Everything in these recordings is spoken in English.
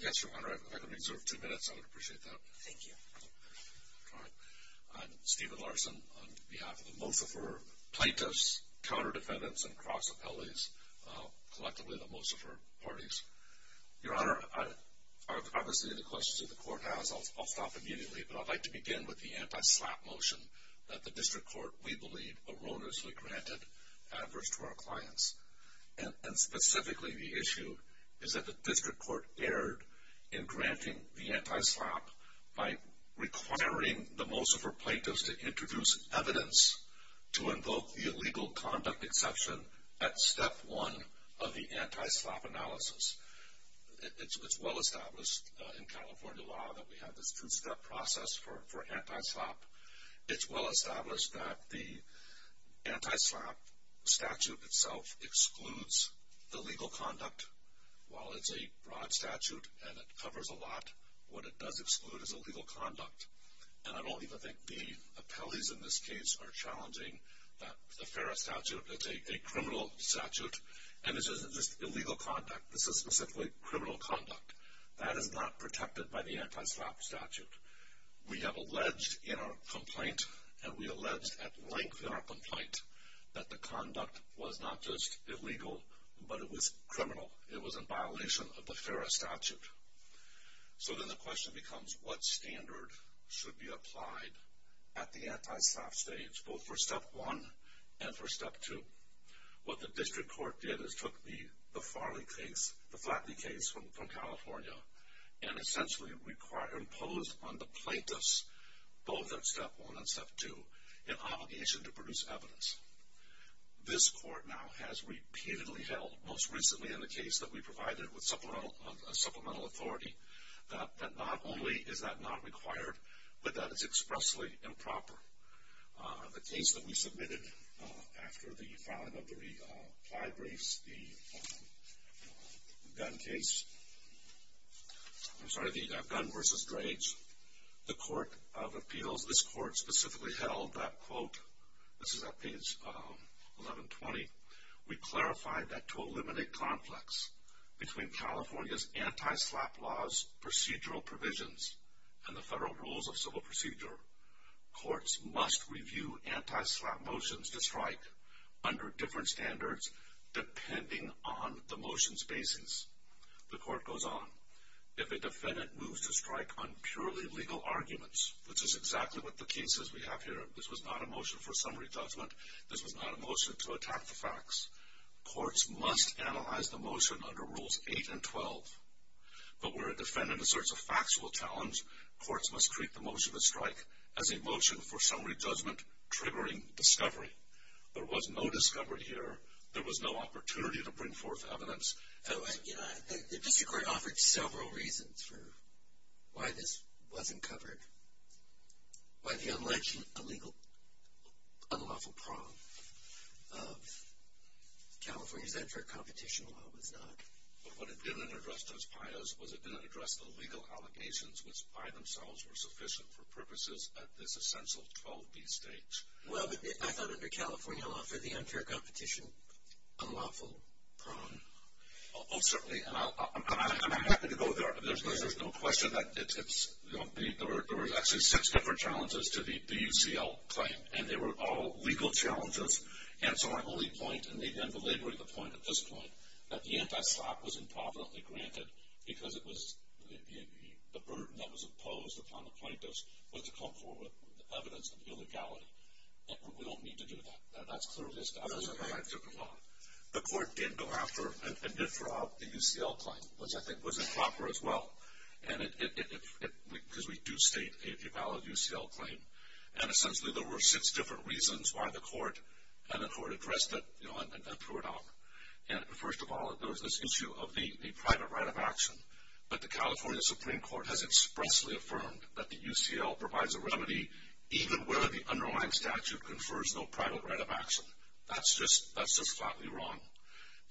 Yes, Your Honor. If I could reserve two minutes, I would appreciate that. Thank you. All right. I'm Stephen Larson on behalf of the Mosafer plaintiffs, counter defendants, and cross appellees, collectively the Mosafer parties. Your Honor, obviously the questions that the court has, I'll stop immediately. But I'd like to begin with the anti-SLAPP motion that the district court, we believe, erroneously granted adverse to our clients. And specifically the issue is that the district court erred in granting the anti-SLAPP by requiring the Mosafer plaintiffs to introduce evidence to invoke the illegal conduct exception at step one of the anti-SLAPP analysis. It's well established in California law that we have this two-step process for anti-SLAPP. It's well established that the anti-SLAPP statute itself excludes the legal conduct. While it's a broad statute and it covers a lot, what it does exclude is illegal conduct. And I don't even think the appellees in this case are challenging the FARA statute. It's a criminal statute, and this isn't just illegal conduct. This is specifically criminal conduct. That is not protected by the anti-SLAPP statute. We have alleged in our complaint, and we alleged at length in our complaint, that the conduct was not just illegal, but it was criminal. It was in violation of the FARA statute. So then the question becomes, what standard should be applied at the anti-SLAPP stage, both for step one and for step two? What the district court did is took the Farley case, the Flatley case from California, and essentially imposed on the plaintiffs, both at step one and step two, an obligation to produce evidence. This court now has repeatedly held, most recently in the case that we provided with supplemental authority, that not only is that not required, but that it's expressly improper. The case that we submitted after the filing of the re-applied briefs, the gun case. I'm sorry, the gun versus drugs. The court of appeals, this court specifically held that, quote, this is at page 1120, we clarified that to eliminate conflicts between California's anti-SLAPP laws, procedural provisions, and the federal rules of civil procedure, courts must review anti-SLAPP motions to strike under different standards depending on the motion's basis. The court goes on, if a defendant moves to strike on purely legal arguments, which is exactly what the case is we have here, this was not a motion for summary judgment, this was not a motion to attack the facts, courts must analyze the motion under rules 8 and 12. But where a defendant asserts a factual challenge, courts must treat the motion to strike as a motion for summary judgment triggering discovery. There was no discovery here, there was no opportunity to bring forth evidence. The district court offered several reasons for why this wasn't covered. Why the alleged illegal unlawful prong of California's unfair competition law was not. But what it didn't address, Judge Paius, was it didn't address the legal allegations which by themselves were sufficient for purposes at this essential 12B stage. Well, but I thought under California law for the unfair competition, unlawful prong. Oh, certainly, and I'm happy to go there. There's no question that there were actually six different challenges to the UCL claim, and they were all legal challenges. And so my only point, and maybe I'm belaboring the point at this point, that the anti-SLAPP was improperly granted because the burden that was imposed upon the plaintiffs was to come forward with evidence of illegality. And we don't need to do that. That's clearly established under California law. The court did go after and withdraw the UCL claim, which I think was improper as well, because we do state a valid UCL claim. And essentially there were six different reasons why the court addressed it and threw it out. And first of all, there was this issue of the private right of action. But the California Supreme Court has expressly affirmed that the UCL provides a remedy even where the underlying statute confers no private right of action. That's just flatly wrong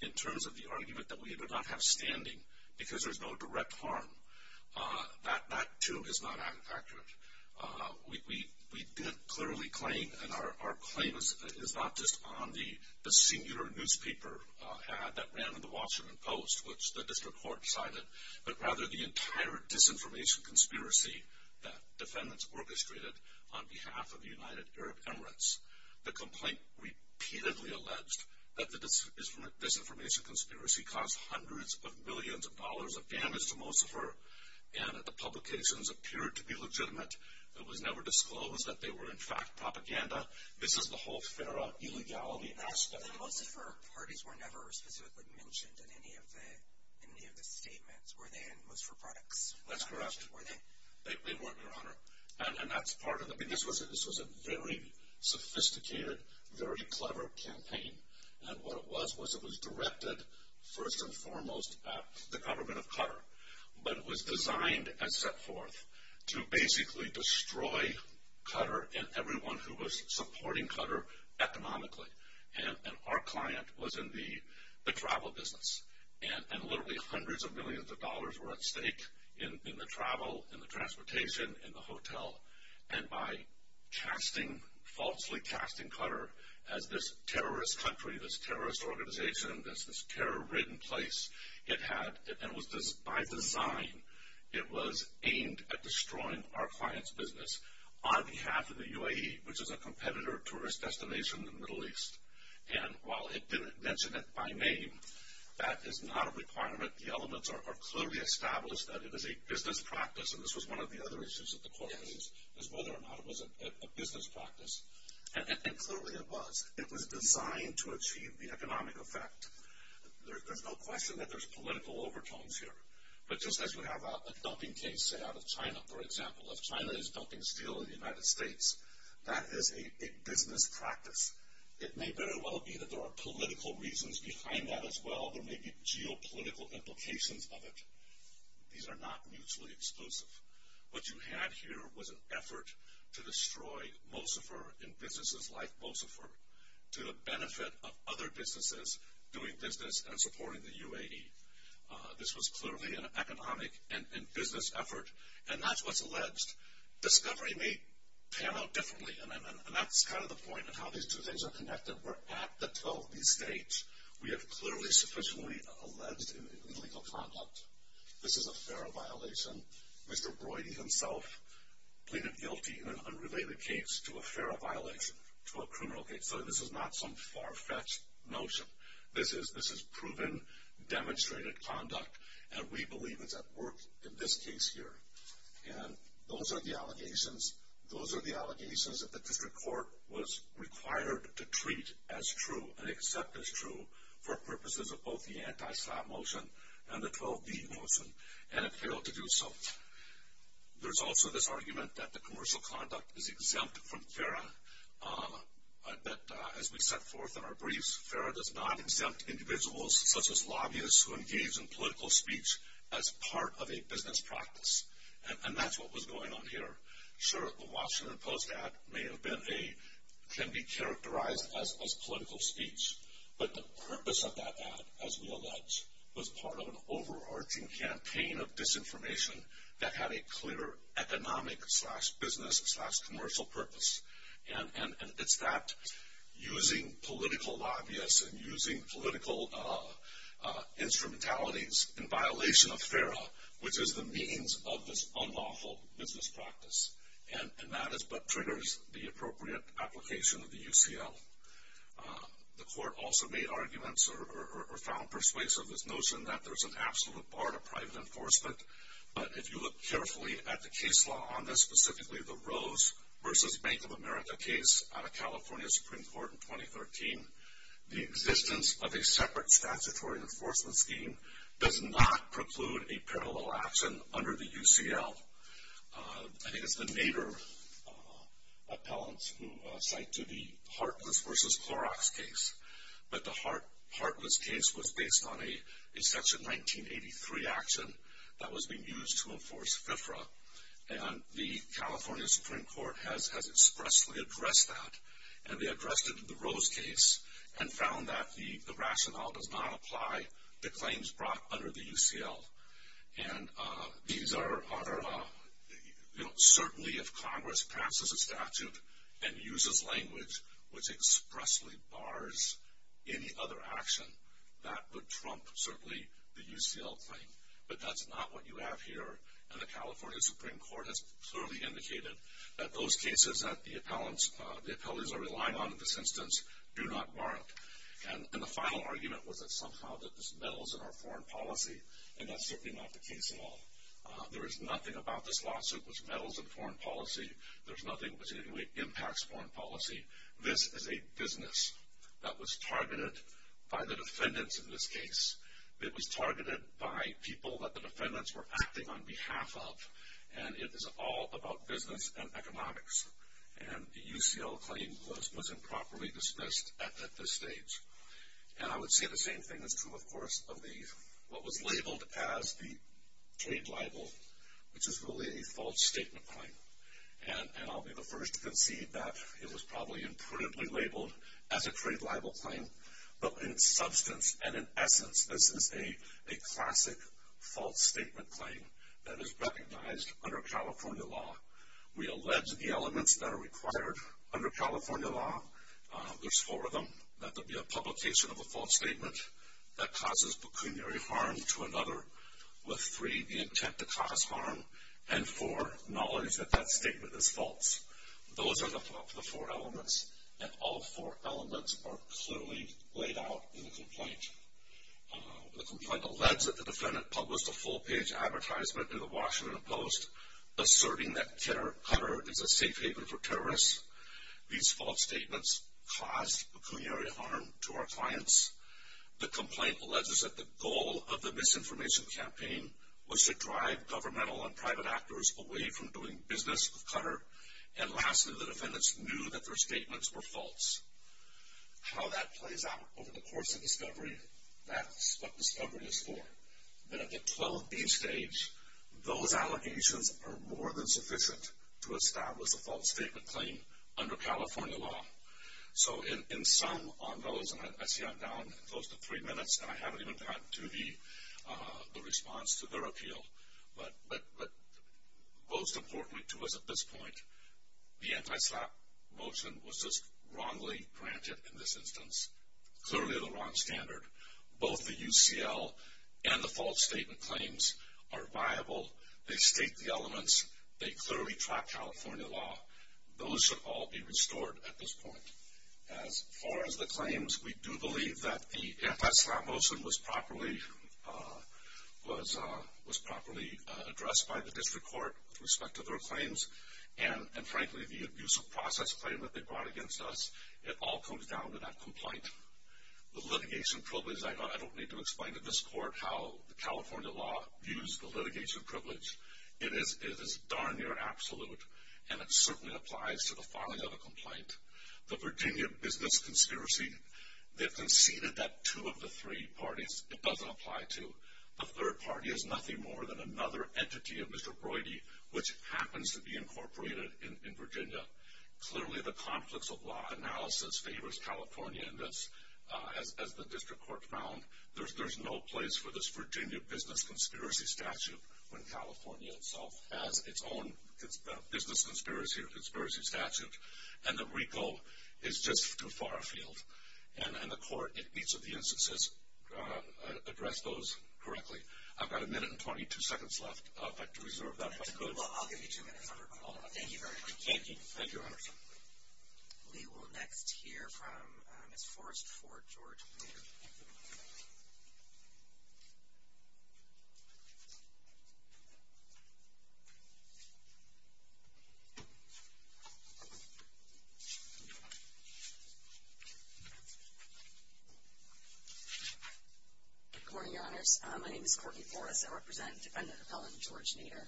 in terms of the argument that we do not have standing because there's no direct harm. That, too, is not accurate. We did clearly claim, and our claim is not just on the singular newspaper ad that ran in the Washington Post, which the district court cited, but rather the entire disinformation conspiracy that defendants orchestrated on behalf of the United Arab Emirates. The complaint repeatedly alleged that the disinformation conspiracy caused hundreds of millions of dollars of damage to Mocifer, and that the publications appeared to be legitimate. It was never disclosed that they were in fact propaganda. This is the whole FARA illegality aspect. So the Mocifer parties were never specifically mentioned in any of the statements, were they in Mocifer products? That's correct. Were they? They weren't, Your Honor. And that's part of it. This was a very sophisticated, very clever campaign. And what it was was it was directed first and foremost at the government of Qatar, but it was designed and set forth to basically destroy Qatar and everyone who was supporting Qatar economically. And our client was in the travel business, and literally hundreds of millions of dollars were at stake in the travel, in the transportation, in the hotel. And by falsely casting Qatar as this terrorist country, this terrorist organization, this terror-ridden place it had, and by design it was aimed at destroying our client's business on behalf of the UAE, which is a competitor tourist destination in the Middle East. And while it didn't mention it by name, that is not a requirement. The elements are clearly established that it is a business practice, and this was one of the other issues that the court raised, is whether or not it was a business practice. And clearly it was. It was designed to achieve the economic effect. There's no question that there's political overtones here. But just as we have a dumping case, say, out of China, for example, if China is dumping steel in the United States, that is a business practice. It may very well be that there are political reasons behind that as well. There may be geopolitical implications of it. These are not mutually exclusive. What you had here was an effort to destroy Mocifer in businesses like Mocifer to the benefit of other businesses doing business and supporting the UAE. This was clearly an economic and business effort. And that's what's alleged. Discovery may pan out differently, and that's kind of the point of how these two things are connected. We're at the toe of these states. We have clearly sufficiently alleged illegal conduct. This is a FARA violation. Mr. Broidy himself pleaded guilty in an unrelated case to a FARA violation, to a criminal case. So this is not some far-fetched notion. This is proven, demonstrated conduct, and we believe it's at work in this case here. And those are the allegations. Those are the allegations that the district court was required to treat as true and accept as true for purposes of both the anti-slap motion and the 12B motion, and it failed to do so. There's also this argument that the commercial conduct is exempt from FARA. As we set forth in our briefs, FARA does not exempt individuals such as lobbyists who engage in political speech as part of a business practice. And that's what was going on here. Sure, the Washington Post ad may have been a, can be characterized as political speech. But the purpose of that ad, as we allege, was part of an overarching campaign of disinformation that had a clear economic slash business slash commercial purpose. And it's that using political lobbyists and using political instrumentalities in violation of FARA, which is the means of this unlawful business practice. And that is what triggers the appropriate application of the UCL. The court also made arguments or found persuasive this notion that there's an absolute bar to private enforcement. But if you look carefully at the case law on this, specifically the Rose versus Bank of America case out of California Supreme Court in 2013, the existence of a separate statutory enforcement scheme does not preclude a parallel action under the UCL. I think it's the Nader appellants who cite to the Hartless versus Clorox case. But the Hartless case was based on a Section 1983 action that was being used to enforce FIFRA. And the California Supreme Court has expressly addressed that. And they addressed it in the Rose case and found that the rationale does not apply to claims brought under the UCL. And these are, you know, certainly if Congress passes a statute and uses language which expressly bars any other action, that would trump certainly the UCL claim. But that's not what you have here and the California Supreme Court has clearly indicated that those cases that the appellants are relying on in this instance do not warrant. And the final argument was that somehow that this meddles in our foreign policy and that's certainly not the case at all. There is nothing about this lawsuit which meddles in foreign policy. There's nothing which in any way impacts foreign policy. This is a business that was targeted by the defendants in this case. It was targeted by people that the defendants were acting on behalf of. And it is all about business and economics. And the UCL claim was improperly dismissed at this stage. And I would say the same thing is true, of course, of what was labeled as the trade libel, which is really a false statement claim. And I'll be the first to concede that it was probably imperatively labeled as a trade libel claim. But in substance and in essence, this is a classic false statement claim that is recognized under California law. We allege the elements that are required under California law. There's four of them, that there be a publication of a false statement that causes pecuniary harm to another, with three, the intent to cause harm, and four, knowledge that that statement is false. Those are the four elements, and all four elements are clearly laid out in the complaint. The complaint alleges that the defendant published a full-page advertisement in the Washington Post asserting that Qatar is a safe haven for terrorists. These false statements caused pecuniary harm to our clients. The complaint alleges that the goal of the misinformation campaign And lastly, the defendants knew that their statements were false. How that plays out over the course of discovery, that's what discovery is for. But at the 12B stage, those allegations are more than sufficient to establish a false statement claim under California law. So in sum on those, and I see I'm down close to three minutes, and I haven't even gotten to the response to their appeal, but most importantly to us at this point, the anti-slap motion was just wrongly granted in this instance. Clearly the wrong standard. Both the UCL and the false statement claims are viable. They state the elements. They clearly track California law. Those should all be restored at this point. As far as the claims, we do believe that the anti-slap motion was properly addressed by the district court with respect to their claims. And frankly, the abuse of process claim that they brought against us, it all comes down to that complaint. The litigation privilege, I don't need to explain to this court how the California law views the litigation privilege. It is darn near absolute, and it certainly applies to the filing of a complaint. The Virginia business conspiracy, they conceded that two of the three parties, it doesn't apply to. The third party is nothing more than another entity of Mr. Brody, which happens to be incorporated in Virginia. Clearly the conflicts of law analysis favors California, and as the district court found, there's no place for this Virginia business conspiracy statute when California itself has its own business conspiracy statute. And the RICO is just too far afield, and the court in each of the instances addressed those correctly. I've got a minute and 22 seconds left, but to reserve that. I'll give you two minutes. Thank you very much. Thank you. Thank you, Your Honors. We will next hear from Ms. Forrest Ford George Nader. Good morning, Your Honors. My name is Courtney Forrest. I represent Defendant Appellant George Nader.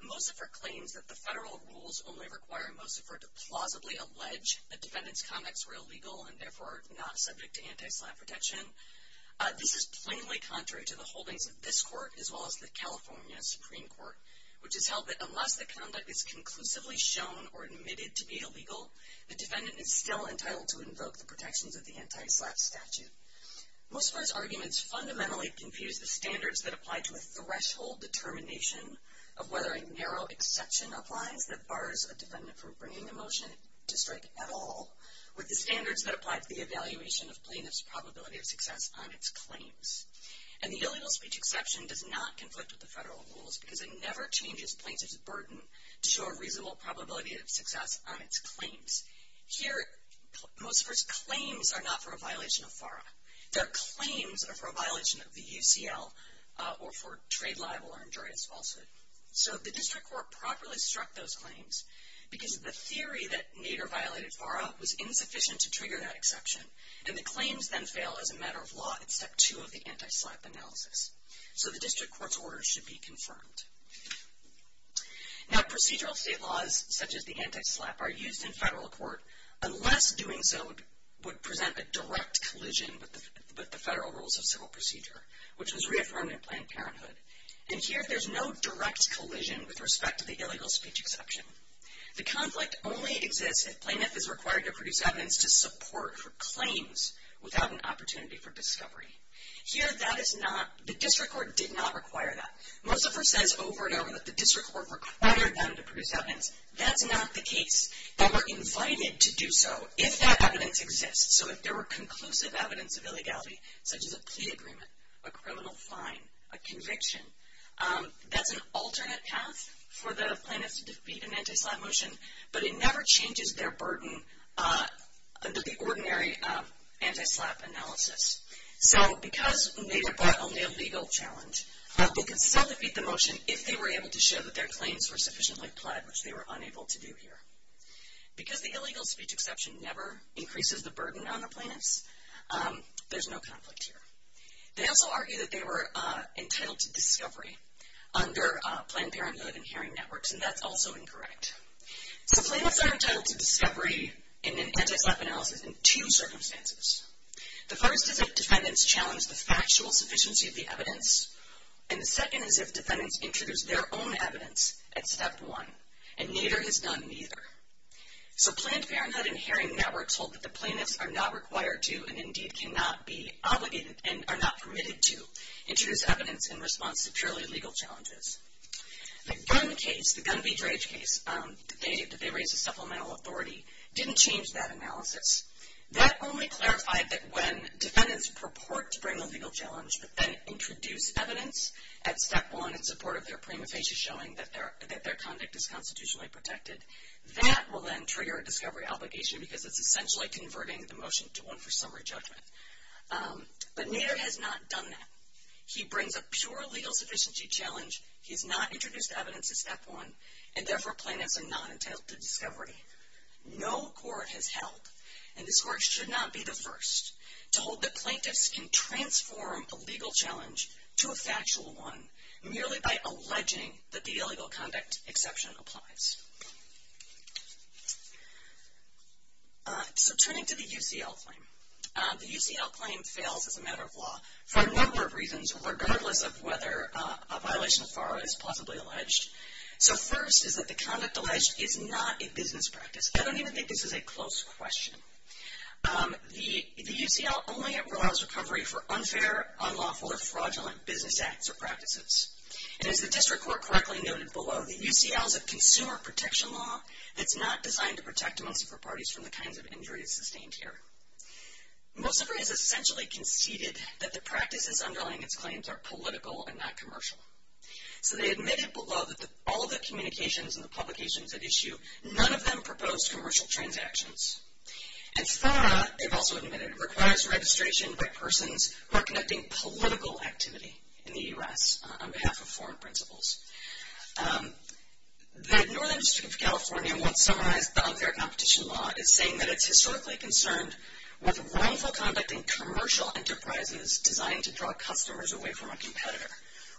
Mosifer claims that the federal rules only require Mosifer to plausibly allege that defendants' conducts were illegal and therefore are not subject to antislap protection. This is plainly contrary to the holdings of this court as well as the California Supreme Court, which has held that unless the conduct is conclusively shown or admitted to be illegal, the defendant is still entitled to invoke the protections of the antislap statute. Mosifer's arguments fundamentally confuse the standards that apply to a threshold determination of whether a narrow exception applies that bars a defendant from bringing a motion to strike at all with the standards that apply to the evaluation of plaintiff's probability of success on its claims. And the illegal speech exception does not conflict with the federal rules because it never changes plaintiff's burden to show a reasonable probability of success on its claims. Here, Mosifer's claims are not for a violation of FARA. Their claims are for a violation of the UCL or for trade libel or injurious falsehood. So the district court properly struck those claims because the theory that Nader violated FARA was insufficient to trigger that exception, and the claims then fail as a matter of law in Step 2 of the antislap analysis. So the district court's orders should be confirmed. Now, procedural state laws such as the antislap are used in federal court unless doing so would present a direct collision with the federal rules of civil procedure, which was reaffirmed in Planned Parenthood. And here, there's no direct collision with respect to the illegal speech exception. The conflict only exists if plaintiff is required to produce evidence to support for claims without an opportunity for discovery. Here, the district court did not require that. Mosifer says over and over that the district court required them to produce evidence. That's not the case. They were invited to do so if that evidence exists. So if there were conclusive evidence of illegality, such as a plea agreement, a criminal fine, a conviction, that's an alternate path for the plaintiffs to defeat an antislap motion, but it never changes their burden under the ordinary antislap analysis. So because Nader brought only a legal challenge, they could still defeat the motion if they were able to show that their claims were sufficiently pled, which they were unable to do here. Because the illegal speech exception never increases the burden on the plaintiffs, there's no conflict here. They also argue that they were entitled to discovery under Planned Parenthood and hearing networks, and that's also incorrect. So plaintiffs are entitled to discovery in an antislap analysis in two circumstances. The first is if defendants challenge the factual sufficiency of the evidence, and the second is if defendants introduce their own evidence at step one, and Nader has done neither. So Planned Parenthood and hearing networks hold that the plaintiffs are not required to and indeed cannot be obligated and are not permitted to introduce evidence in response to purely legal challenges. The Gunn case, the Gunn v. Drage case, that they raised as supplemental authority, didn't change that analysis. That only clarified that when defendants purport to bring a legal challenge but then introduce evidence at step one in support of their prima facie showing that their conduct is constitutionally protected, that will then trigger a discovery obligation because it's essentially converting the motion to one for summary judgment. But Nader has not done that. He brings a pure legal sufficiency challenge. He has not introduced evidence at step one, and therefore plaintiffs are not entitled to discovery. No court has held, and this court should not be the first, to hold that plaintiffs can transform a legal challenge to a factual one merely by alleging that the illegal conduct exception applies. So turning to the UCL claim. The UCL claim fails as a matter of law for a number of reasons, regardless of whether a violation of FARA is possibly alleged. So first is that the conduct alleged is not a business practice. I don't even think this is a close question. The UCL only allows recovery for unfair, unlawful, or fraudulent business acts or practices. And as the district court correctly noted below, the UCL is a consumer protection law that's not designed to protect Mocifer parties from the kinds of injuries sustained here. Mocifer has essentially conceded that the practices underlying its claims are political and not commercial. So they admitted below that all of the communications and the publications at issue, none of them proposed commercial transactions. And FARA, they've also admitted, requires registration by persons who are conducting political activity in the U.S. on behalf of foreign principals. The Northern District of California once summarized the unfair competition law as saying that it's historically concerned with wrongful conduct in commercial enterprises designed to draw customers away from a competitor.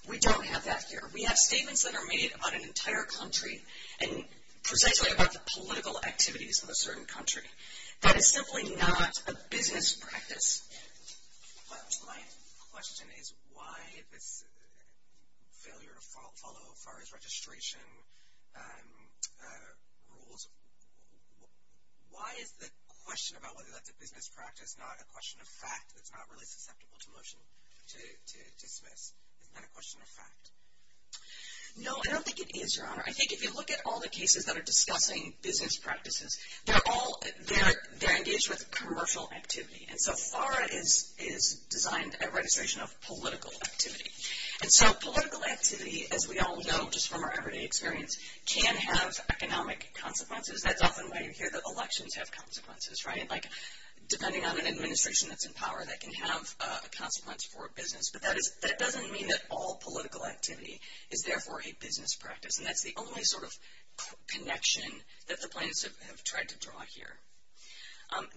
We don't have that here. We have statements that are made about an entire country and precisely about the political activities of a certain country. That is simply not a business practice. My question is why this failure to follow FARA's registration rules, why is the question about whether that's a business practice not a question of fact that's not really susceptible to motion, to dismiss? Isn't that a question of fact? No, I don't think it is, Your Honor. I think if you look at all the cases that are discussing business practices, they're engaged with commercial activity. And so FARA is designed a registration of political activity. And so political activity, as we all know just from our everyday experience, can have economic consequences. That's often why you hear that elections have consequences, right? Like depending on an administration that's in power, that can have a consequence for a business. But that doesn't mean that all political activity is therefore a business practice. And that's the only sort of connection that the plaintiffs have tried to draw here.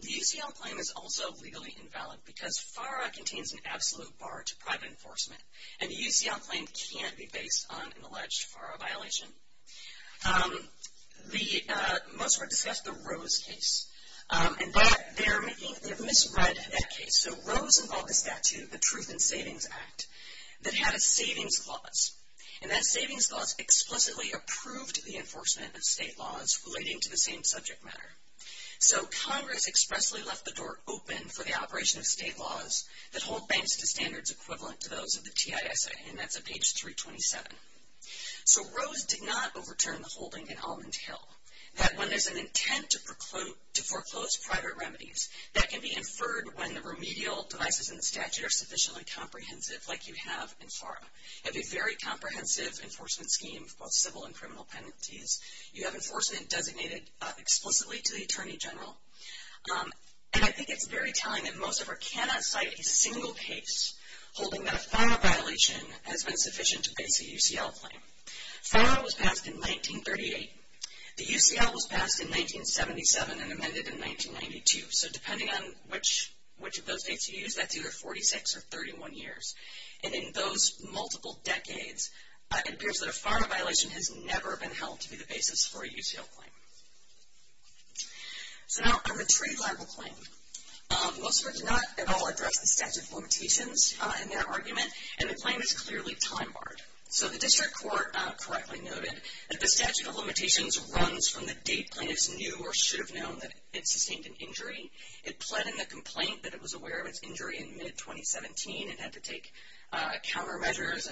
The UCL claim is also legally invalid because FARA contains an absolute bar to private enforcement. And the UCL claim can't be based on an alleged FARA violation. Most were discussed the Rose case. And that they're making, they've misread that case. So Rose involved a statute, the Truth in Savings Act, that had a savings clause. And that savings clause explicitly approved the enforcement of state laws relating to the same subject matter. So Congress expressly left the door open for the operation of state laws that hold banks to standards equivalent to those of the TISA. And that's at page 327. So Rose did not overturn the holding in Almond Hill that when there's an intent to foreclose private remedies, that can be inferred when the remedial devices in the statute are sufficiently comprehensive like you have in FARA. You have a very comprehensive enforcement scheme of both civil and criminal penalties. You have enforcement designated explicitly to the Attorney General. And I think it's very telling that most of her cannot cite a single case holding that a FARA violation has been sufficient to base a UCL claim. FARA was passed in 1938. The UCL was passed in 1977 and amended in 1992. So depending on which of those dates you use, that's either 46 or 31 years. And in those multiple decades, it appears that a FARA violation has never been held to be the basis for a UCL claim. So now, a retrieval of a claim. Most of her did not at all address the statute of limitations in their argument, and the claim is clearly time-barred. So the district court correctly noted that the statute of limitations runs from the date plaintiffs knew or should have known that it sustained an injury. It pled in the complaint that it was aware of its injury in mid-2017 and had to take countermeasures.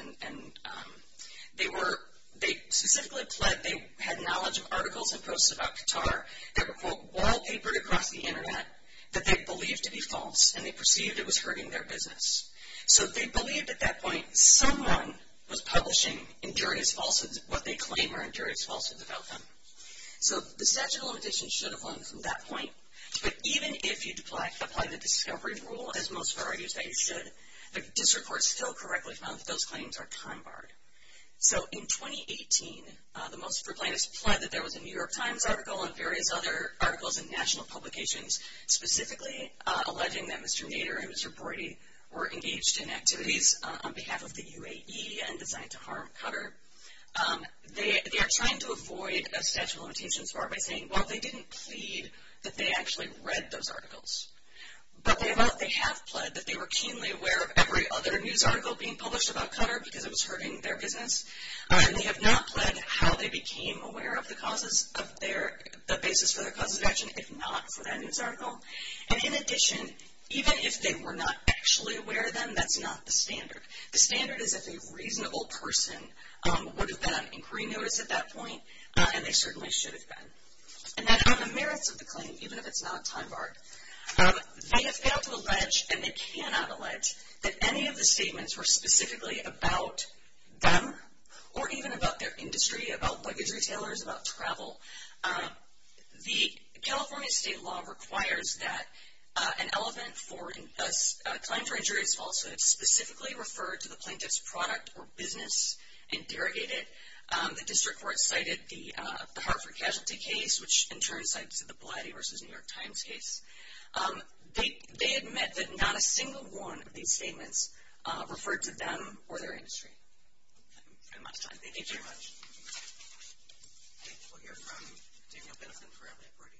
They specifically pled they had knowledge of articles and posts about Qatar that were, quote, wallpapered across the Internet that they believed to be false and they perceived it was hurting their business. So they believed at that point someone was publishing injurious falsehoods, what they claim are injurious falsehoods, about them. So the statute of limitations should have run from that point. But even if you apply the discovery rule, as most FARA users said, the district court still correctly found that those claims are time-barred. So in 2018, the most FARA plaintiffs pled that there was a New York Times article and various other articles in national publications specifically alleging that Mr. Nader and Mr. Brody were engaged in activities on behalf of the UAE and designed to harm Qatar. They are trying to avoid a statute of limitations bar by saying, while they didn't plead that they actually read those articles, but they have pled that they were keenly aware of every other news article being published about Qatar because it was hurting their business. And they have not pled how they became aware of the causes of their, the basis for their causes of action if not for that news article. And in addition, even if they were not actually aware of them, that's not the standard. The standard is if a reasonable person would have been on inquiry notice at that point, and they certainly should have been. And then on the merits of the claim, even if it's not time-barred, they have failed to allege, and they cannot allege, that any of the statements were specifically about them or even about their industry, about luggage retailers, about travel. The California state law requires that an element for a claim for injury is falsehood. Specifically refer to the plaintiff's product or business and derogate it. The district court cited the Hartford casualty case, which in turn cites the Blatty v. New York Times case. They admit that not a single one of these statements referred to them or their industry. I'm out of time. Thank you very much. We'll hear from Daniel Benefin for LAPRD.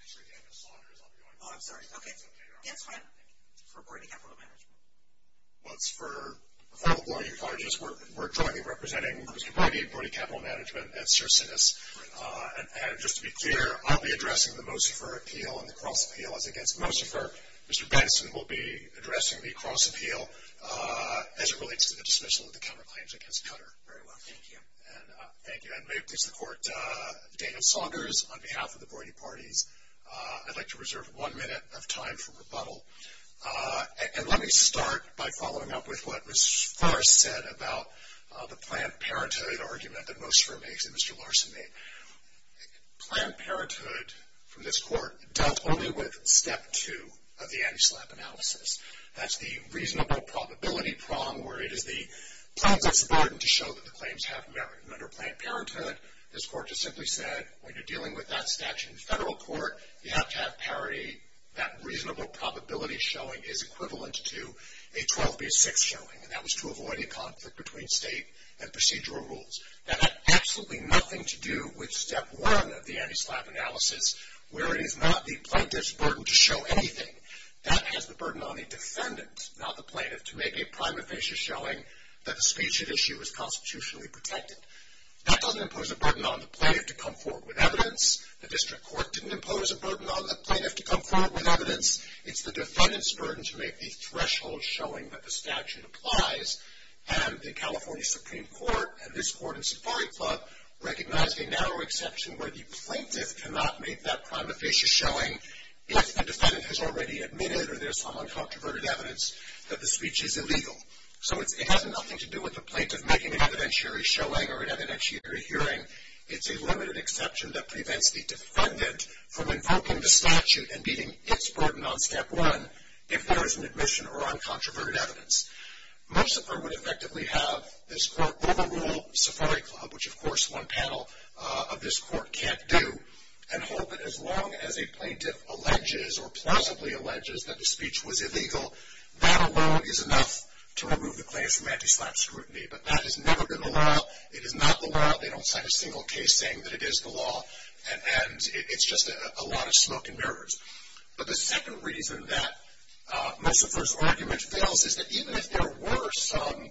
Actually, Daniel Saunders. Oh, I'm sorry. That's fine. For LAPRD Capital Management. Well, it's for all the Blatty colleges. We're jointly representing Mr. Blatty, Blatty Capital Management, and Sir Sinus. And just to be clear, I'll be addressing the Mosifer appeal and the Cross appeal as against Mosifer. Mr. Benson will be addressing the Cross appeal as it relates to the dismissal of the counterclaims against Cutter. Very well. Thank you. Thank you. And may it please the Court, Daniel Saunders, on behalf of the Blatty parties, I'd like to reserve one minute of time for rebuttal. And let me start by following up with what Ms. Farr said about the Planned Parenthood argument that Mosifer makes and Mr. Larson made. Planned Parenthood, from this Court, dealt only with step two of the anti-SLAPP analysis. That's the reasonable probability prong where it is the plaintiff's burden to show that the claims have merit. And under Planned Parenthood, this Court just simply said, when you're dealing with that statute in federal court, you have to have parity, that reasonable probability showing is equivalent to a 12 v. 6 showing, and that was to avoid a conflict between state and procedural rules. That had absolutely nothing to do with step one of the anti-SLAPP analysis, where it is not the plaintiff's burden to show anything. That has the burden on the defendant, not the plaintiff, to make a prima facie showing that the speech at issue is constitutionally protected. That doesn't impose a burden on the plaintiff to come forward with evidence. The district court didn't impose a burden on the plaintiff to come forward with evidence. It's the defendant's burden to make the threshold showing that the statute applies. And the California Supreme Court and this Court in Safari Club recognized a narrow exception where the plaintiff cannot make that prima facie showing if the defendant has already admitted, or there's some uncontroverted evidence, that the speech is illegal. So it has nothing to do with the plaintiff making an evidentiary showing or an evidentiary hearing. It's a limited exception that prevents the defendant from invoking the statute and meeting its burden on step one if there is an admission or uncontroverted evidence. Most of them would effectively have this Court overrule Safari Club, which of course one panel of this Court can't do, and hold that as long as a plaintiff alleges or plausibly alleges that the speech was illegal, that alone is enough to remove the claim from anti-SLAPP scrutiny. But that has never been the law. It is not the law. They don't sign a single case saying that it is the law, and it's just a lot of smoke and mirrors. But the second reason that Mosifer's argument fails is that even if there were some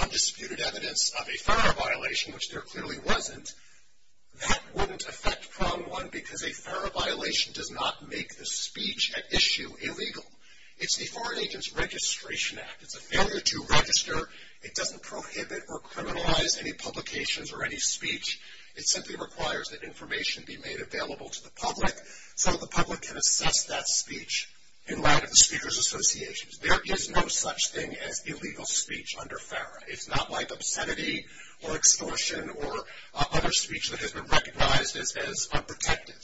undisputed evidence of a FARA violation, which there clearly wasn't, that wouldn't affect prong one because a FARA violation does not make the speech at issue illegal. It's the Foreign Agents Registration Act. It's a failure to register. It doesn't prohibit or criminalize any publications or any speech. It simply requires that information be made available to the public so that the public can assess that speech in light of the speaker's associations. There is no such thing as illegal speech under FARA. It's not like obscenity or extortion or other speech that has been recognized as unprotected,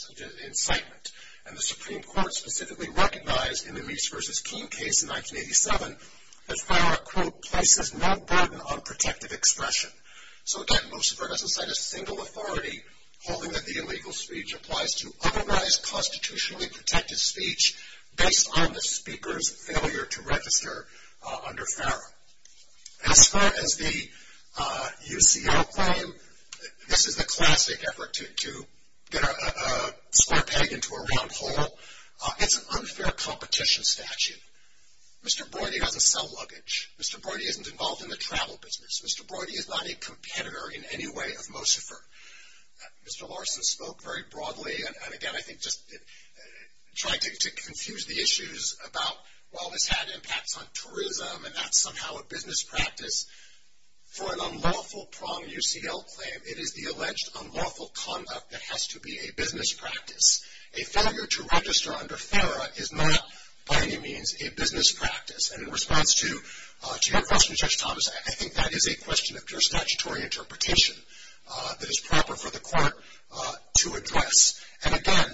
incitement. And the Supreme Court specifically recognized in the Reese v. Keene case in 1987 that FARA, quote, places no burden on protective expression. So again, Mosifer doesn't set a single authority holding that the illegal speech applies to otherwise constitutionally protected speech based on the speaker's failure to register under FARA. As far as the UCL claim, this is the classic effort to get a square peg into a round hole. It's an unfair competition statute. Mr. Brody has a cell luggage. Mr. Brody isn't involved in the travel business. Mr. Brody is not a competitor in any way of Mosifer. Mr. Larson spoke very broadly and, again, I think just tried to confuse the issues about, well, this had impacts on tourism and that's somehow a business practice. For an unlawful prom UCL claim, it is the alleged unlawful conduct that has to be a business practice. A failure to register under FARA is not by any means a business practice. And in response to your question, Judge Thomas, I think that is a question of jurisdictory interpretation that is proper for the court to address. And, again,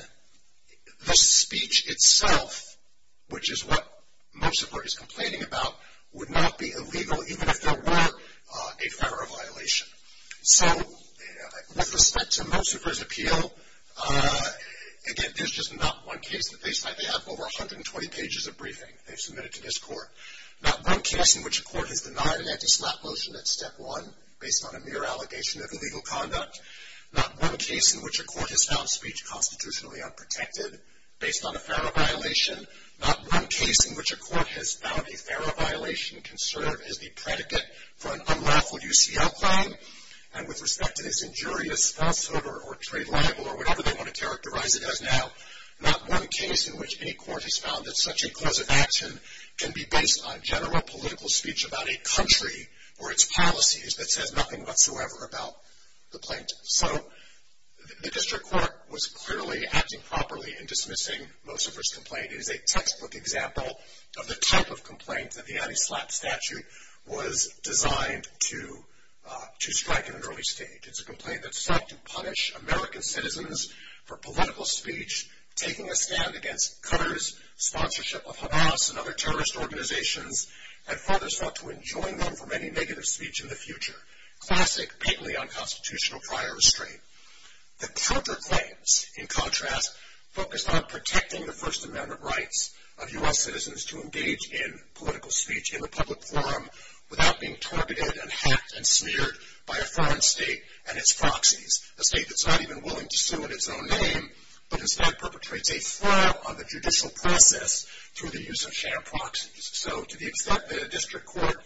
the speech itself, which is what Mosifer is complaining about, would not be illegal even if there were a FARA violation. So with respect to Mosifer's appeal, again, there's just not one case that they cite. They have over 120 pages of briefing they've submitted to this court. Not one case in which a court has denied an anti-SLAPP motion at step one based on a mere allegation of illegal conduct. Not one case in which a court has found speech constitutionally unprotected based on a FARA violation. Not one case in which a court has found a FARA violation conservative as the predicate for an unlawful UCL claim. And with respect to this injurious falsehood or trade libel or whatever they want to characterize it as now, not one case in which any court has found that such a clause of action can be based on general political speech about a country or its policies that says nothing whatsoever about the plaintiff. So the district court was clearly acting properly in dismissing Mosifer's complaint. It is a textbook example of the type of complaint that the anti-SLAPP statute was designed to strike in an early stage. It's a complaint that sought to punish American citizens for political speech, taking a stand against Cutter's sponsorship of Hamas and other terrorist organizations, and further sought to enjoin them from any negative speech in the future. Classic, bigly unconstitutional prior restraint. The Cutter claims, in contrast, focused on protecting the First Amendment rights of U.S. citizens to engage in political speech in the public forum without being targeted and hacked and smeared by a foreign state and its proxies. A state that's not even willing to sue in its own name, but instead perpetrates a fraud on the judicial process through the use of sham proxies. So to the extent that a district court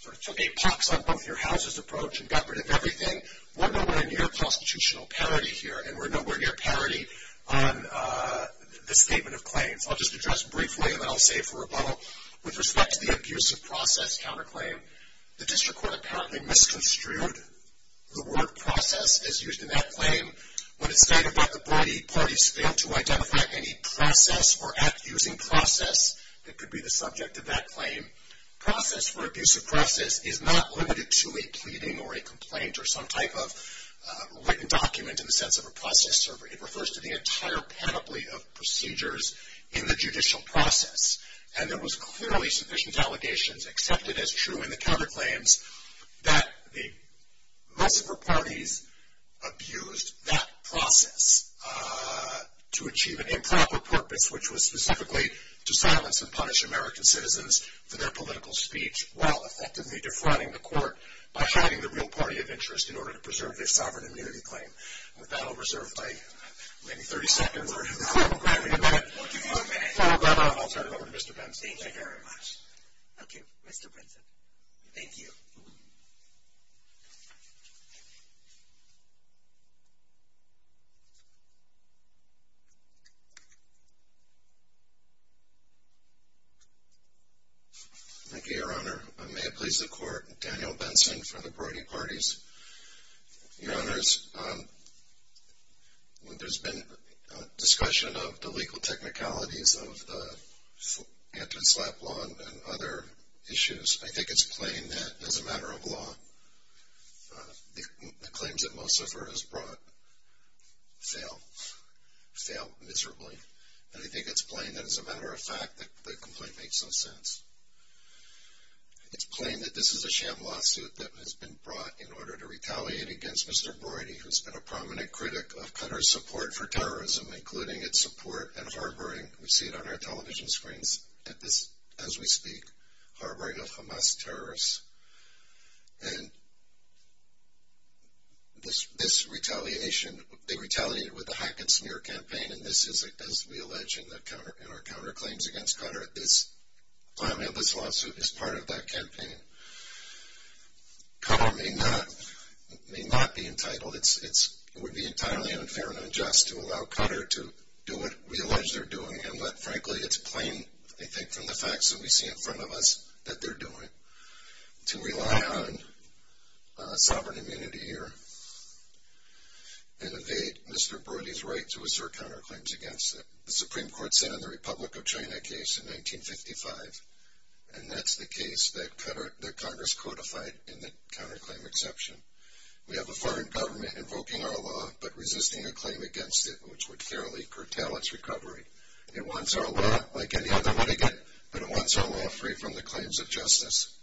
sort of took a pox on both your houses approach and got rid of everything, we're nowhere near constitutional parity here, and we're nowhere near parity on the statement of claims. I'll just address briefly, and then I'll save for rebuttal. With respect to the abusive process counterclaim, the district court apparently misconstrued the word process as used in that claim. When it stated that the party failed to identify any process or accusing process that could be the subject of that claim. Process for abusive process is not limited to a pleading or a complaint or some type of written document in the sense of a process server. It refers to the entire panoply of procedures in the judicial process. And there was clearly sufficient allegations accepted as true in the Cutter claims that most of her parties abused that process to achieve an improper purpose, which was specifically to silence and punish American citizens for their political speech while effectively defrauding the court by hiding the real party of interest in order to preserve their sovereign immunity claim. With that, I'll reserve my maybe 30 seconds, or if the court will grant me a minute. We'll give you a minute. I'll turn it over to Mr. Benson. Thank you very much. Okay, Mr. Benson. Thank you. Thank you, Your Honor. May it please the court, Daniel Benson for the Brody Parties. Your Honors, there's been discussion of the legal technicalities of the Anton Slap Law and other issues. I think it's plain that, as a matter of law, the claims that most of her has brought fail miserably. And I think it's plain that, as a matter of fact, the complaint makes no sense. It's plain that this is a sham lawsuit that has been brought in order to retaliate against Mr. Brody, who's been a prominent critic of Cutter's support for terrorism, including its support and harboring, we see it on our television screens as we speak, harboring of Hamas terrorists. And this retaliation, they retaliated with a hack and smear campaign, and this is, as we allege in our counterclaims against Cutter, this lawsuit is part of that campaign. Cutter may not be entitled, it would be entirely unfair and unjust to allow Cutter to do what we allege they're doing. And, frankly, it's plain, I think, from the facts that we see in front of us that they're doing, to rely on sovereign immunity here and evade Mr. Brody's right to assert counterclaims against it. The Supreme Court sent in the Republic of China case in 1955, and that's the case that Congress codified in the counterclaim exception. We have a foreign government invoking our law but resisting a claim against it, which would clearly curtail its recovery. It wants our law like any other litigant, but it wants our law free from the claims of justice.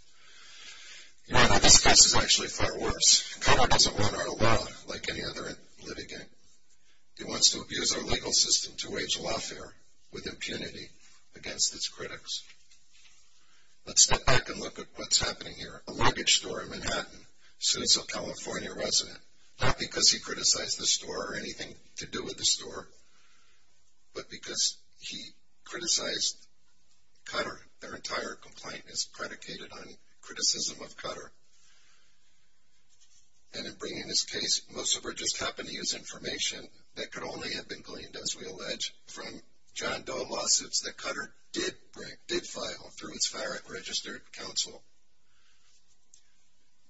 You know, this case is actually far worse. Cutter doesn't want our law like any other litigant. He wants to abuse our legal system to wage lawfare with impunity against its critics. Let's step back and look at what's happening here. A luggage store in Manhattan, suits a California resident, not because he criticized the store or anything to do with the store, but because he criticized Cutter. Their entire complaint is predicated on criticism of Cutter. And in bringing this case, Mussover just happened to use information that could only have been gleaned, as we allege, from John Doe lawsuits that Cutter did file through his fire at registered counsel.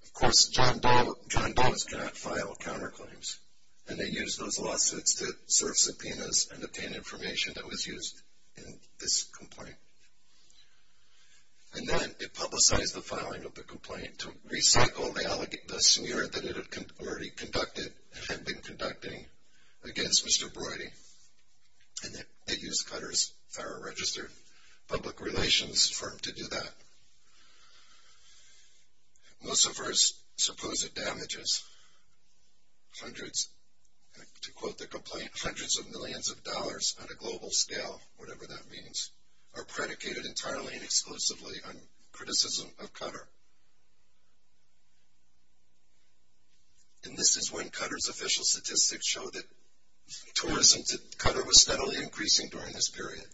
Of course, John Doe's cannot file counterclaims, and they use those lawsuits to serve subpoenas and obtain information that was used in this complaint. And then it publicized the filing of the complaint to recycle the smear that it had already conducted and had been conducting against Mr. Broidy. And then it used Cutter's fire at registered public relations firm to do that. Mussover's supposed damages, hundreds, to quote the complaint, hundreds of millions of dollars on a global scale, whatever that means, are predicated entirely and exclusively on criticism of Cutter. And this is when Cutter's official statistics show that tourism to Cutter was steadily increasing during this period.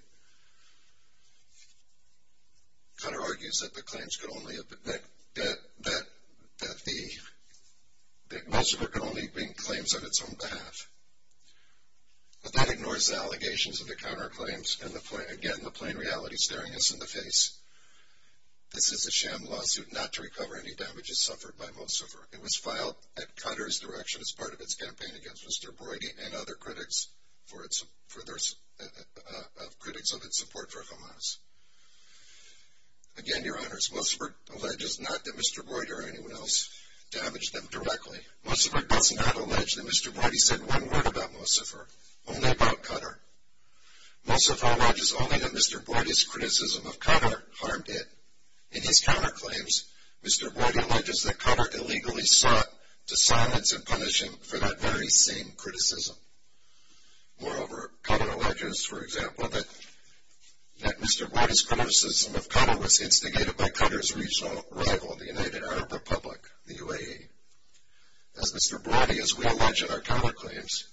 Cutter argues that Mussover could only bring claims on its own behalf. But that ignores the allegations of the counterclaims and, again, the plain reality staring us in the face. This is a sham lawsuit not to recover any damages suffered by Mussover. It was filed at Cutter's direction as part of its campaign against Mr. Broidy and other critics of its support for Hamas. Again, Your Honors, Mussover alleges not that Mr. Broidy or anyone else damaged them directly. Mussover does not allege that Mr. Broidy said one word about Mussover, only about Cutter. Mussover alleges only that Mr. Broidy's criticism of Cutter harmed it. In his counterclaims, Mr. Broidy alleges that Cutter illegally sought to silence and punish him for that very same criticism. Moreover, Cutter alleges, for example, that Mr. Broidy's criticism of Cutter was instigated by Cutter's regional rival, the United Arab Republic, the UAE. As Mr. Broidy, as we allege in our counterclaims,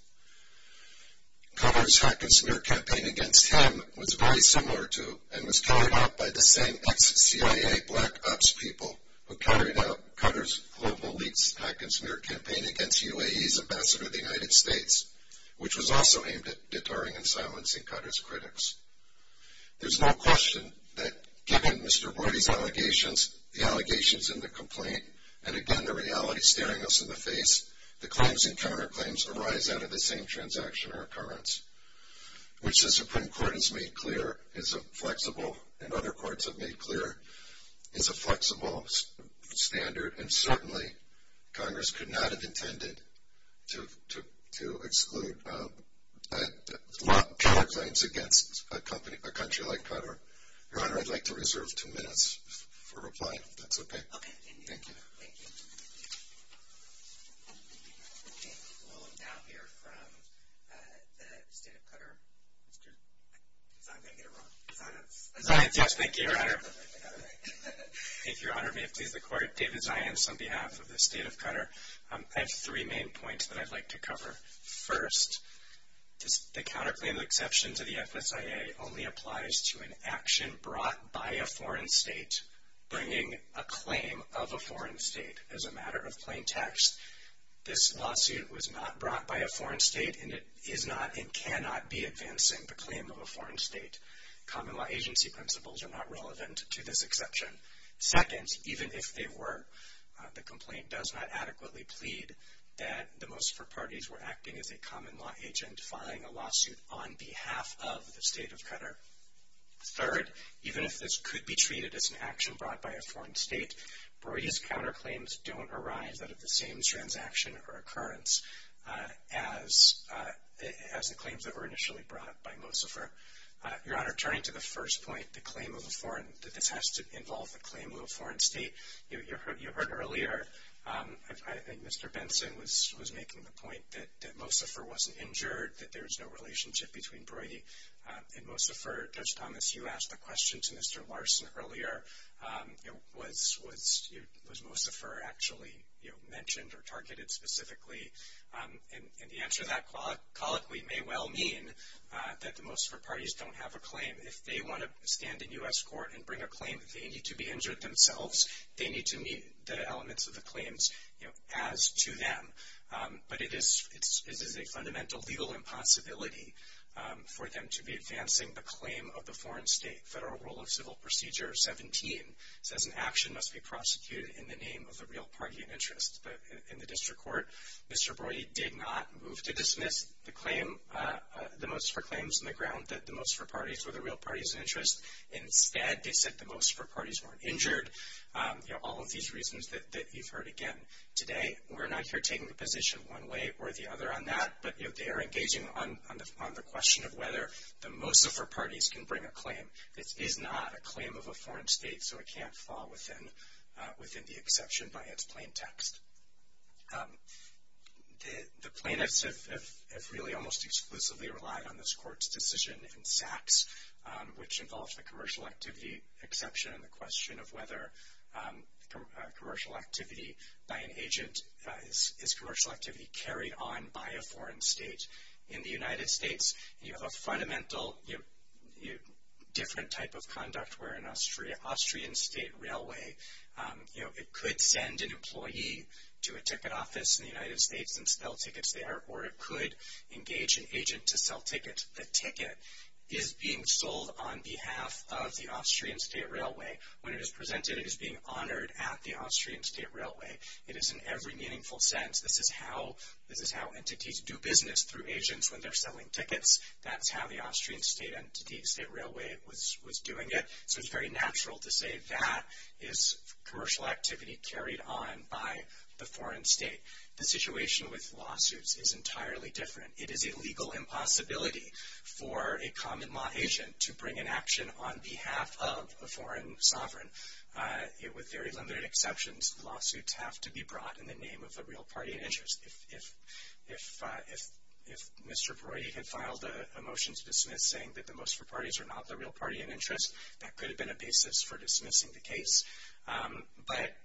Cutter's hack and smear campaign against him was very similar to and was carried out by the same ex-CIA black ops people who carried out Cutter's global leaks, hack and smear campaign against UAE's ambassador to the United States, which was also aimed at deterring and silencing Cutter's critics. There's no question that given Mr. Broidy's allegations, the allegations in the complaint, and again the reality staring us in the face, the claims and counterclaims arise out of the same transaction or occurrence, which the Supreme Court has made clear is a flexible, and other courts have made clear is a flexible standard, and certainly Congress could not have intended to exclude counterclaims against a country like Cutter. Your Honor, I'd like to reserve two minutes for replying, if that's okay. Thank you. Thank you. We'll now hear from the State of Cutter. I'm going to get it wrong. Zions. Zions, yes, thank you, Your Honor. If Your Honor, may it please the Court, David Zions on behalf of the State of Cutter. I have three main points that I'd like to cover. First, the counterclaim exception to the FSIA only applies to an action brought by a foreign state bringing a claim of a foreign state. As a matter of plain text, this lawsuit was not brought by a foreign state, and it is not and cannot be advancing the claim of a foreign state. Common law agency principles are not relevant to this exception. Second, even if they were, the complaint does not adequately plead that the Mocifer parties were acting as a common law agent filing a lawsuit on behalf of the State of Cutter. Third, even if this could be treated as an action brought by a foreign state, Broidy's counterclaims don't arise out of the same transaction or occurrence as the claims that were initially brought by Mocifer. Your Honor, turning to the first point, the claim of a foreign, that this has to involve the claim of a foreign state, you heard earlier, I think Mr. Benson was making the point that Mocifer wasn't injured, that there's no relationship between Broidy and Mocifer. Judge Thomas, you asked the question to Mr. Larson earlier. Was Mocifer actually mentioned or targeted specifically? And the answer to that colloquially may well mean that the Mocifer parties don't have a claim. If they want to stand in U.S. court and bring a claim that they need to be injured themselves, they need to meet the elements of the claims as to them. But it is a fundamental legal impossibility for them to be advancing the claim of the foreign state. Federal Rule of Civil Procedure 17 says an action must be prosecuted in the name of the real party in interest. But in the district court, Mr. Broidy did not move to dismiss the claim, the Mocifer claims in the ground that the Mocifer parties were the real parties in interest. Instead, they said the Mocifer parties weren't injured. You know, all of these reasons that you've heard again. Today, we're not here taking the position one way or the other on that, but they are engaging on the question of whether the Mocifer parties can bring a claim. This is not a claim of a foreign state, so it can't fall within the exception by its plain text. The plaintiffs have really almost exclusively relied on this court's decision in Sachs, which involves the commercial activity exception and the question of whether commercial activity by an agent is commercial activity carried on by a foreign state. In the United States, you have a fundamental different type of conduct where an Austrian state railway, it could send an employee to a ticket office in the United States and sell tickets there, or it could engage an agent to sell tickets. And the ticket is being sold on behalf of the Austrian state railway. When it is presented, it is being honored at the Austrian state railway. It is in every meaningful sense. This is how entities do business through agents when they're selling tickets. That's how the Austrian state railway was doing it. So it's very natural to say that is commercial activity carried on by the foreign state. The situation with lawsuits is entirely different. It is a legal impossibility for a common law agent to bring an action on behalf of a foreign sovereign. With very limited exceptions, lawsuits have to be brought in the name of a real party in interest. If Mr. Brody had filed a motion to dismiss saying that the most for parties are not the real party in interest, that could have been a basis for dismissing the case. But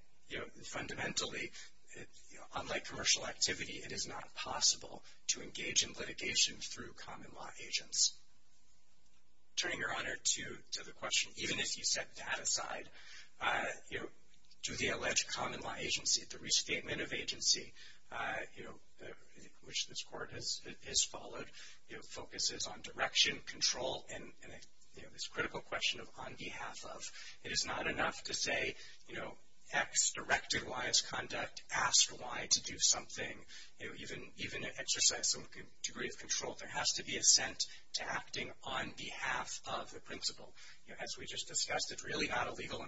fundamentally, unlike commercial activity, it is not possible to engage in litigation through common law agents. Turning your honor to the question, even if you set that aside, do the alleged common law agency, the restatement of agency, which this court has followed, focuses on direction, control, and this critical question of on behalf of. It is not enough to say X directed Y's conduct, ask Y to do something, even exercise some degree of control. There has to be assent to acting on behalf of the principal. As we just discussed, it's really not a legal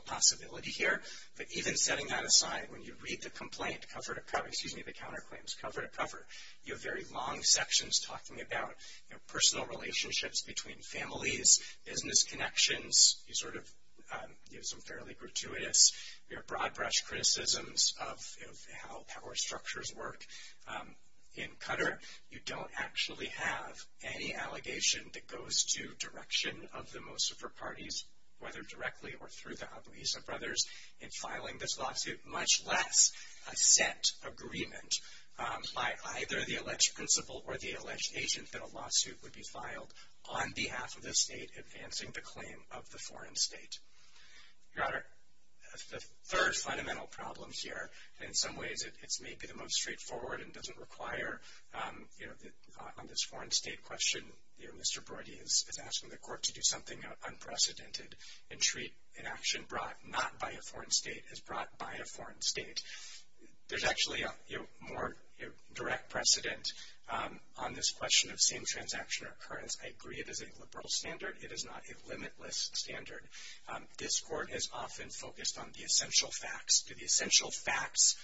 possibility here. But even setting that aside, when you read the counterclaims cover to cover, you have very long sections talking about personal relationships between families, business connections. You have some fairly gratuitous broad-brush criticisms of how power structures work. In Cutter, you don't actually have any allegation that goes to direction of the most for parties, whether directly or through the Abueza brothers, in filing this lawsuit, much less a set agreement by either the alleged principal or the alleged agent that a lawsuit would be filed on behalf of the state advancing the claim of the foreign state. Your honor, the third fundamental problem here, and in some ways it's maybe the most straightforward and doesn't require, you know, on this foreign state question, you know, Mr. Brody is asking the court to do something unprecedented and treat an action brought not by a foreign state as brought by a foreign state. There's actually a more direct precedent on this question of same-transaction occurrence. I agree it is a liberal standard. It is not a limitless standard. This court is often focused on the essential facts. Do the essential facts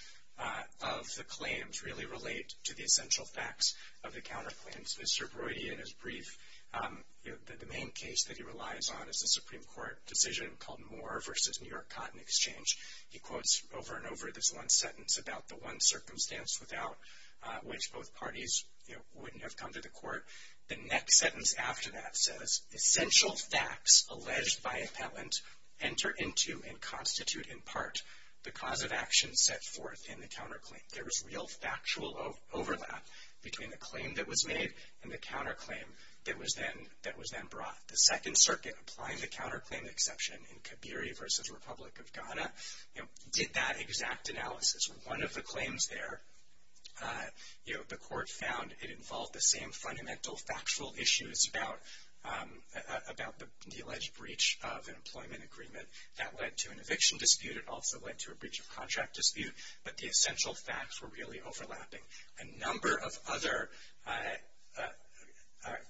of the claims really relate to the essential facts of the counterclaims? As Mr. Brody in his brief, the main case that he relies on is a Supreme Court decision called Moore v. New York Cotton Exchange. He quotes over and over this one sentence about the one circumstance without which both parties, you know, wouldn't have come to the court. The next sentence after that says, essential facts alleged by appellant enter into and constitute in part the cause of action set forth in the counterclaim. There is real factual overlap between the claim that was made and the counterclaim that was then brought. The Second Circuit applying the counterclaim exception in Kibera v. Republic of Ghana, you know, did that exact analysis. One of the claims there, you know, the court found it involved the same fundamental factual issues about the alleged breach of an employment agreement. That led to an eviction dispute. It also led to a breach of contract dispute. But the essential facts were really overlapping. A number of other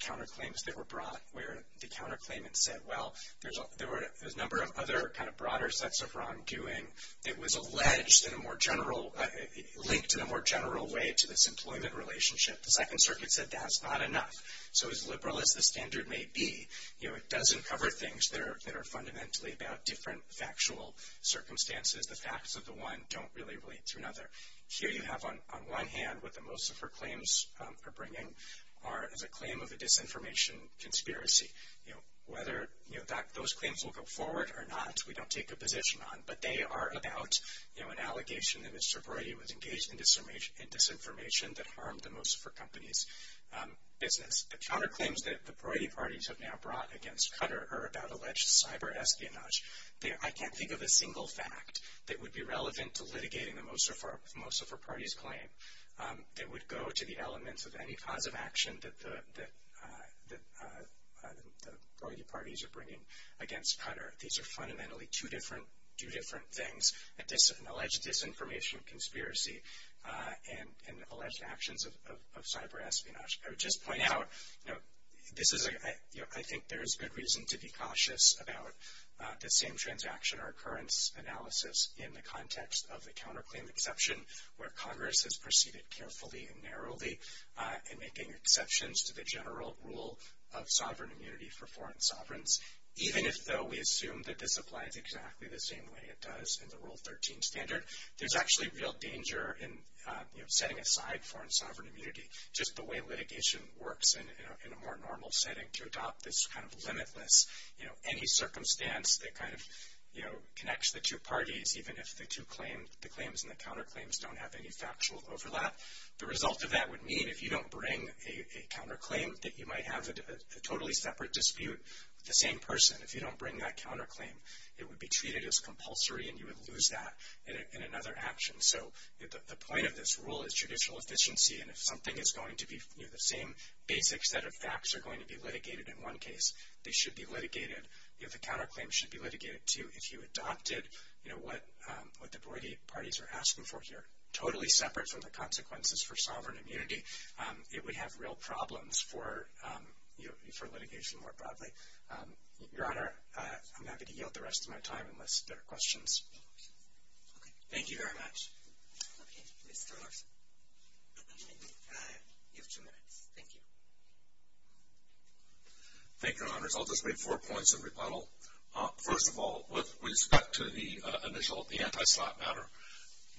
counterclaims that were brought where the counterclaimant said, well, there's a number of other kind of broader sets of wrongdoing that was alleged in a more general, linked in a more general way to this employment relationship. The Second Circuit said that's not enough. So as liberal as the standard may be, you know, it doesn't cover things that are fundamentally about different factual circumstances. The facts of the one don't really relate to another. Here you have on one hand what the Mosifer claims are bringing are as a claim of a disinformation conspiracy. You know, whether, you know, those claims will go forward or not, we don't take a position on. But they are about, you know, an allegation that Mr. Brody was engaged in disinformation that harmed the Mosifer company's business. The counterclaims that the Brody parties have now brought against Qatar are about alleged cyber espionage. I can't think of a single fact that would be relevant to litigating the Mosifer party's claim that would go to the elements of any cause of action that the Brody parties are bringing against Qatar. These are fundamentally two different things, an alleged disinformation conspiracy and alleged actions of cyber espionage. I would just point out, you know, this is a, you know, I think there is good reason to be cautious about the same transaction or occurrence analysis in the context of the counterclaim exception where Congress has proceeded carefully and narrowly in making exceptions to the general rule of sovereign immunity for foreign sovereigns. Even if though we assume that this applies exactly the same way it does in the Rule 13 standard, there's actually real danger in, you know, setting aside foreign sovereign immunity, just the way litigation works in a more normal setting to adopt this kind of limitless, you know, any circumstance that kind of, you know, connects the two parties even if the two claims, the claims and the counterclaims don't have any factual overlap. The result of that would mean if you don't bring a counterclaim that you might have a totally separate dispute with the same person. If you don't bring that counterclaim, it would be treated as compulsory and you would lose that in another action. So, the point of this rule is judicial efficiency and if something is going to be, you know, the same basic set of facts are going to be litigated in one case, they should be litigated, you know, the counterclaim should be litigated too. If you adopted, you know, what the Broygate parties are asking for here, totally separate from the consequences for sovereign immunity, it would have real problems for litigation more broadly. Your Honor, I'm happy to yield the rest of my time unless there are questions. Okay. Thank you very much. Okay. Mr. Larsen. You have two minutes. Thank you. Thank you, Your Honors. I'll just make four points of rebuttal. First of all, with respect to the initial, the anti-slot matter,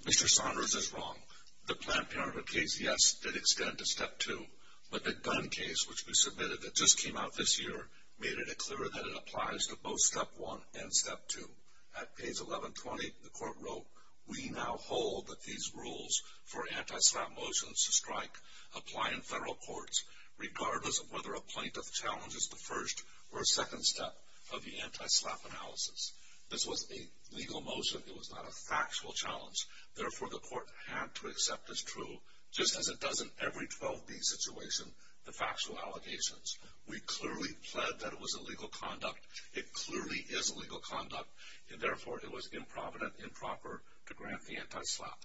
Mr. Saunders is wrong. The Planned Parenthood case, yes, did extend to Step 2, but the gun case, which we submitted that just came out this year, made it clear that it applies to both Step 1 and Step 2. At page 1120, the court wrote, we now hold that these rules for anti-slap motions to strike apply in federal courts, regardless of whether a plaintiff challenges the first or second step of the anti-slap analysis. This was a legal motion. It was not a factual challenge. Therefore, the court had to accept as true, just as it does in every 12B situation, the factual allegations. We clearly pled that it was illegal conduct. It clearly is illegal conduct, and therefore it was improvident, improper to grant the anti-slap.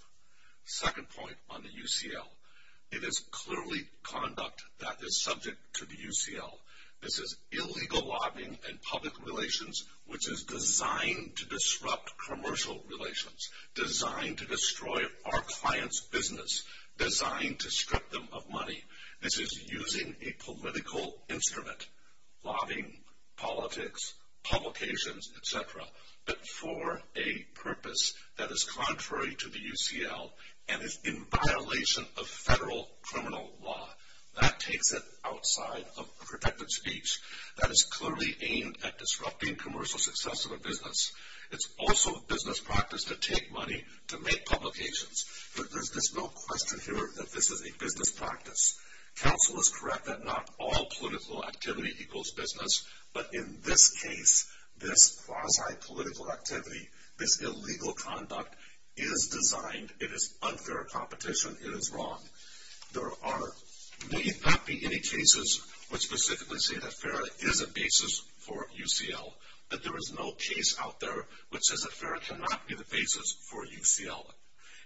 Second point on the UCL. It is clearly conduct that is subject to the UCL. This is illegal lobbying and public relations, which is designed to disrupt commercial relations, designed to destroy our clients' business, designed to strip them of money. This is using a political instrument, lobbying, politics, publications, etc., but for a purpose that is contrary to the UCL, and is in violation of federal criminal law. That takes it outside of protected speech. That is clearly aimed at disrupting commercial success of a business. It's also a business practice to take money to make publications. There's no question here that this is a business practice. Counsel is correct that not all political activity equals business, but in this case, this quasi-political activity, this illegal conduct, is designed. It is unfair competition. It is wrong. There may not be any cases which specifically say that FERA is a basis for UCL, but there is no case out there which says that FERA cannot be the basis for UCL.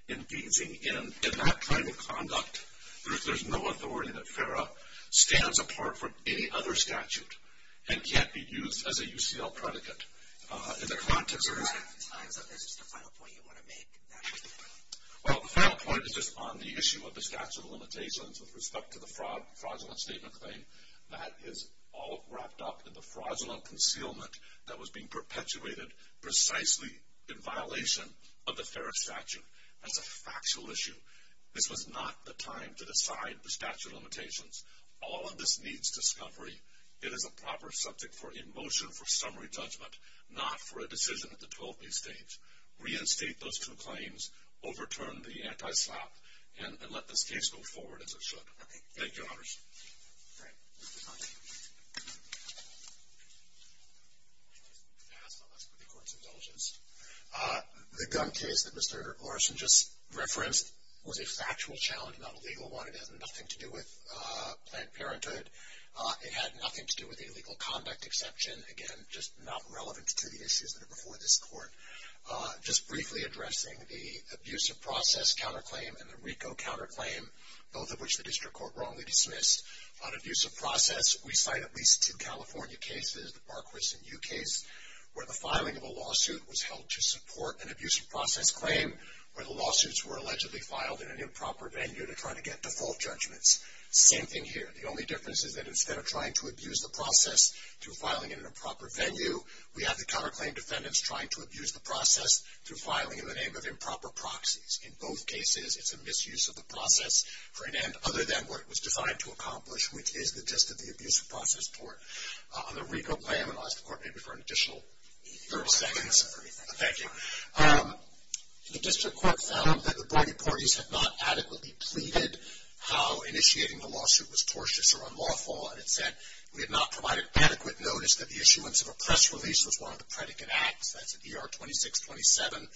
In that kind of conduct, there's no authority that FERA stands apart from any other statute and can't be used as a UCL predicate. In the context of this... Is there a time that this is the final point you want to make? Well, the final point is just on the issue of the statute of limitations with respect to the fraudulent statement claim. That is all wrapped up in the fraudulent concealment that was being perpetuated precisely in violation of the FERA statute. That's a factual issue. This was not the time to decide the statute of limitations. All of this needs discovery. It is a proper subject for in motion for summary judgment, not for a decision at the 12-day stage. Reinstate those two claims. Overturn the anti-slap. And let this case go forward as it should. Thank you, Your Honors. Great. I just want to ask one last question for the Court's indulgence. The gun case that Mr. Larson just referenced was a factual challenge, not a legal one. It had nothing to do with Planned Parenthood. It had nothing to do with the illegal conduct exception. Again, just not relevant to the issues that are before this Court. Just briefly addressing the abusive process counterclaim and the RICO counterclaim, both of which the District Court wrongly dismissed. On abusive process, we cite at least two California cases, the Barquis and You case, where the filing of a lawsuit was held to support an abusive process claim where the lawsuits were allegedly filed in an improper venue to try to get default judgments. Same thing here. The only difference is that instead of trying to abuse the process through filing in an improper venue, we have the counterclaim defendants trying to abuse the process through filing in the name of improper proxies. In both cases, it's a misuse of the process for an end other than what it was defined to accomplish, which is the gist of the abusive process court. On the RICO claim, and I'll ask the Court maybe for an additional 30 seconds. Thank you. The District Court found that the boarding parties had not adequately pleaded how initiating the lawsuit was tortious or unlawful, and it said, we had not provided adequate notice that the issuance of a press release was one of the predicate acts. That's at ER 2627.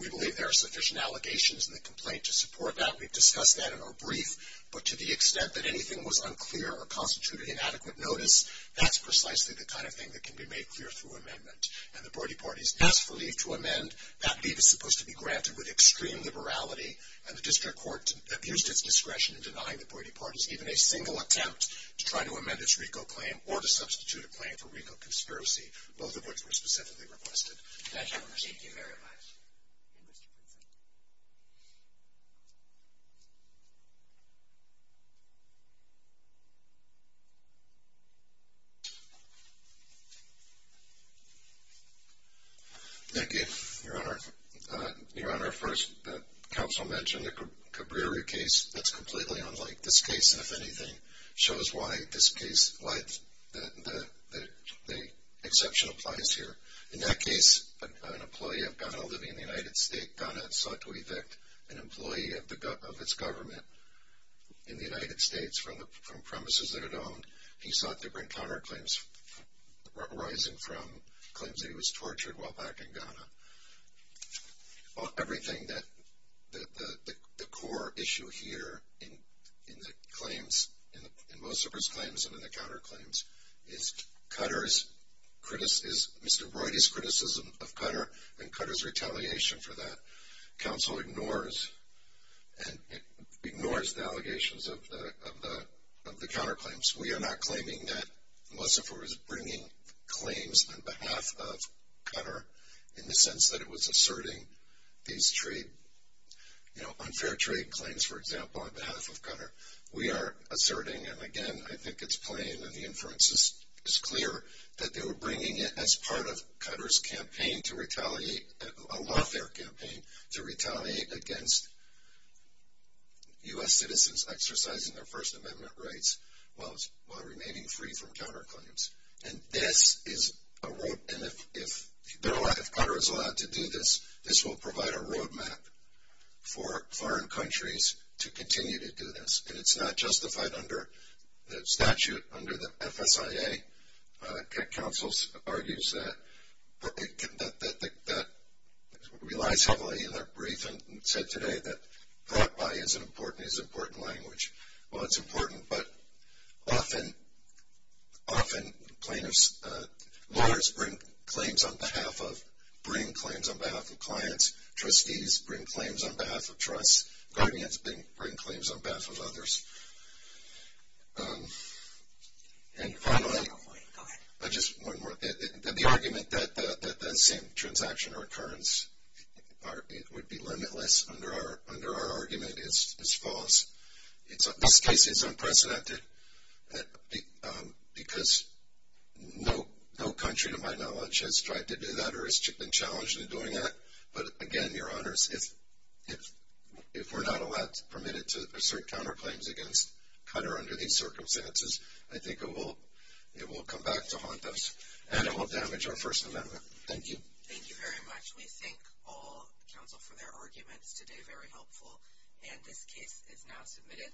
We believe there are sufficient allegations in the complaint to support that. We've discussed that in our brief. But to the extent that anything was unclear or constituted inadequate notice, that's precisely the kind of thing that can be made clear through amendment. And the boarding parties asked for leave to amend. That leave is supposed to be granted with extreme liberality, and the District Court abused its discretion in denying the boarding parties even a single attempt to try to amend its RICO claim or to substitute a claim for RICO conspiracy, both of which were specifically requested. Thank you, Your Honor. Thank you very much. Thank you, Your Honor. Your Honor, first, the counsel mentioned the Cabrieri case. That's completely unlike this case, and, if anything, shows why the exception applies here. In that case, an employee of Ghana living in the United States, Ghana, sought to evict an employee of its government in the United States from premises that it owned. He sought to bring counterclaims arising from claims that he was tortured while back in Ghana. Well, everything that the core issue here in the claims, in Mosifer's claims and in the counterclaims, is Mr. Roydy's criticism of Qatar and Qatar's retaliation for that. Counsel ignores the allegations of the counterclaims. We are not claiming that Mosifer was bringing claims on behalf of Qatar in the sense that it was asserting these trade, you know, unfair trade claims, for example, on behalf of Qatar. We are asserting, and, again, I think it's plain and the inference is clear, that they were bringing it as part of Qatar's campaign to retaliate, a lawfare campaign to retaliate against U.S. citizens exercising their First Amendment rights while remaining free from counterclaims. And this is a road, and if Qatar is allowed to do this, this will provide a road map for foreign countries to continue to do this. And it's not justified under the statute under the FSIA. Counsel argues that that relies heavily on their brief, and said today that Qatar is an important language. Well, it's important, but often lawyers bring claims on behalf of clients. Trustees bring claims on behalf of trusts. Guardians bring claims on behalf of others. And finally, just one more. The argument that the same transaction or occurrence would be limitless under our argument is false. This case is unprecedented because no country, to my knowledge, has tried to do that or has been challenged in doing that. But, again, Your Honors, if we're not allowed, permitted to assert counterclaims against Qatar under these circumstances, I think it will come back to haunt us, and it will damage our First Amendment. Thank you. Thank you very much. We thank all counsel for their arguments today, very helpful. And this case is now submitted.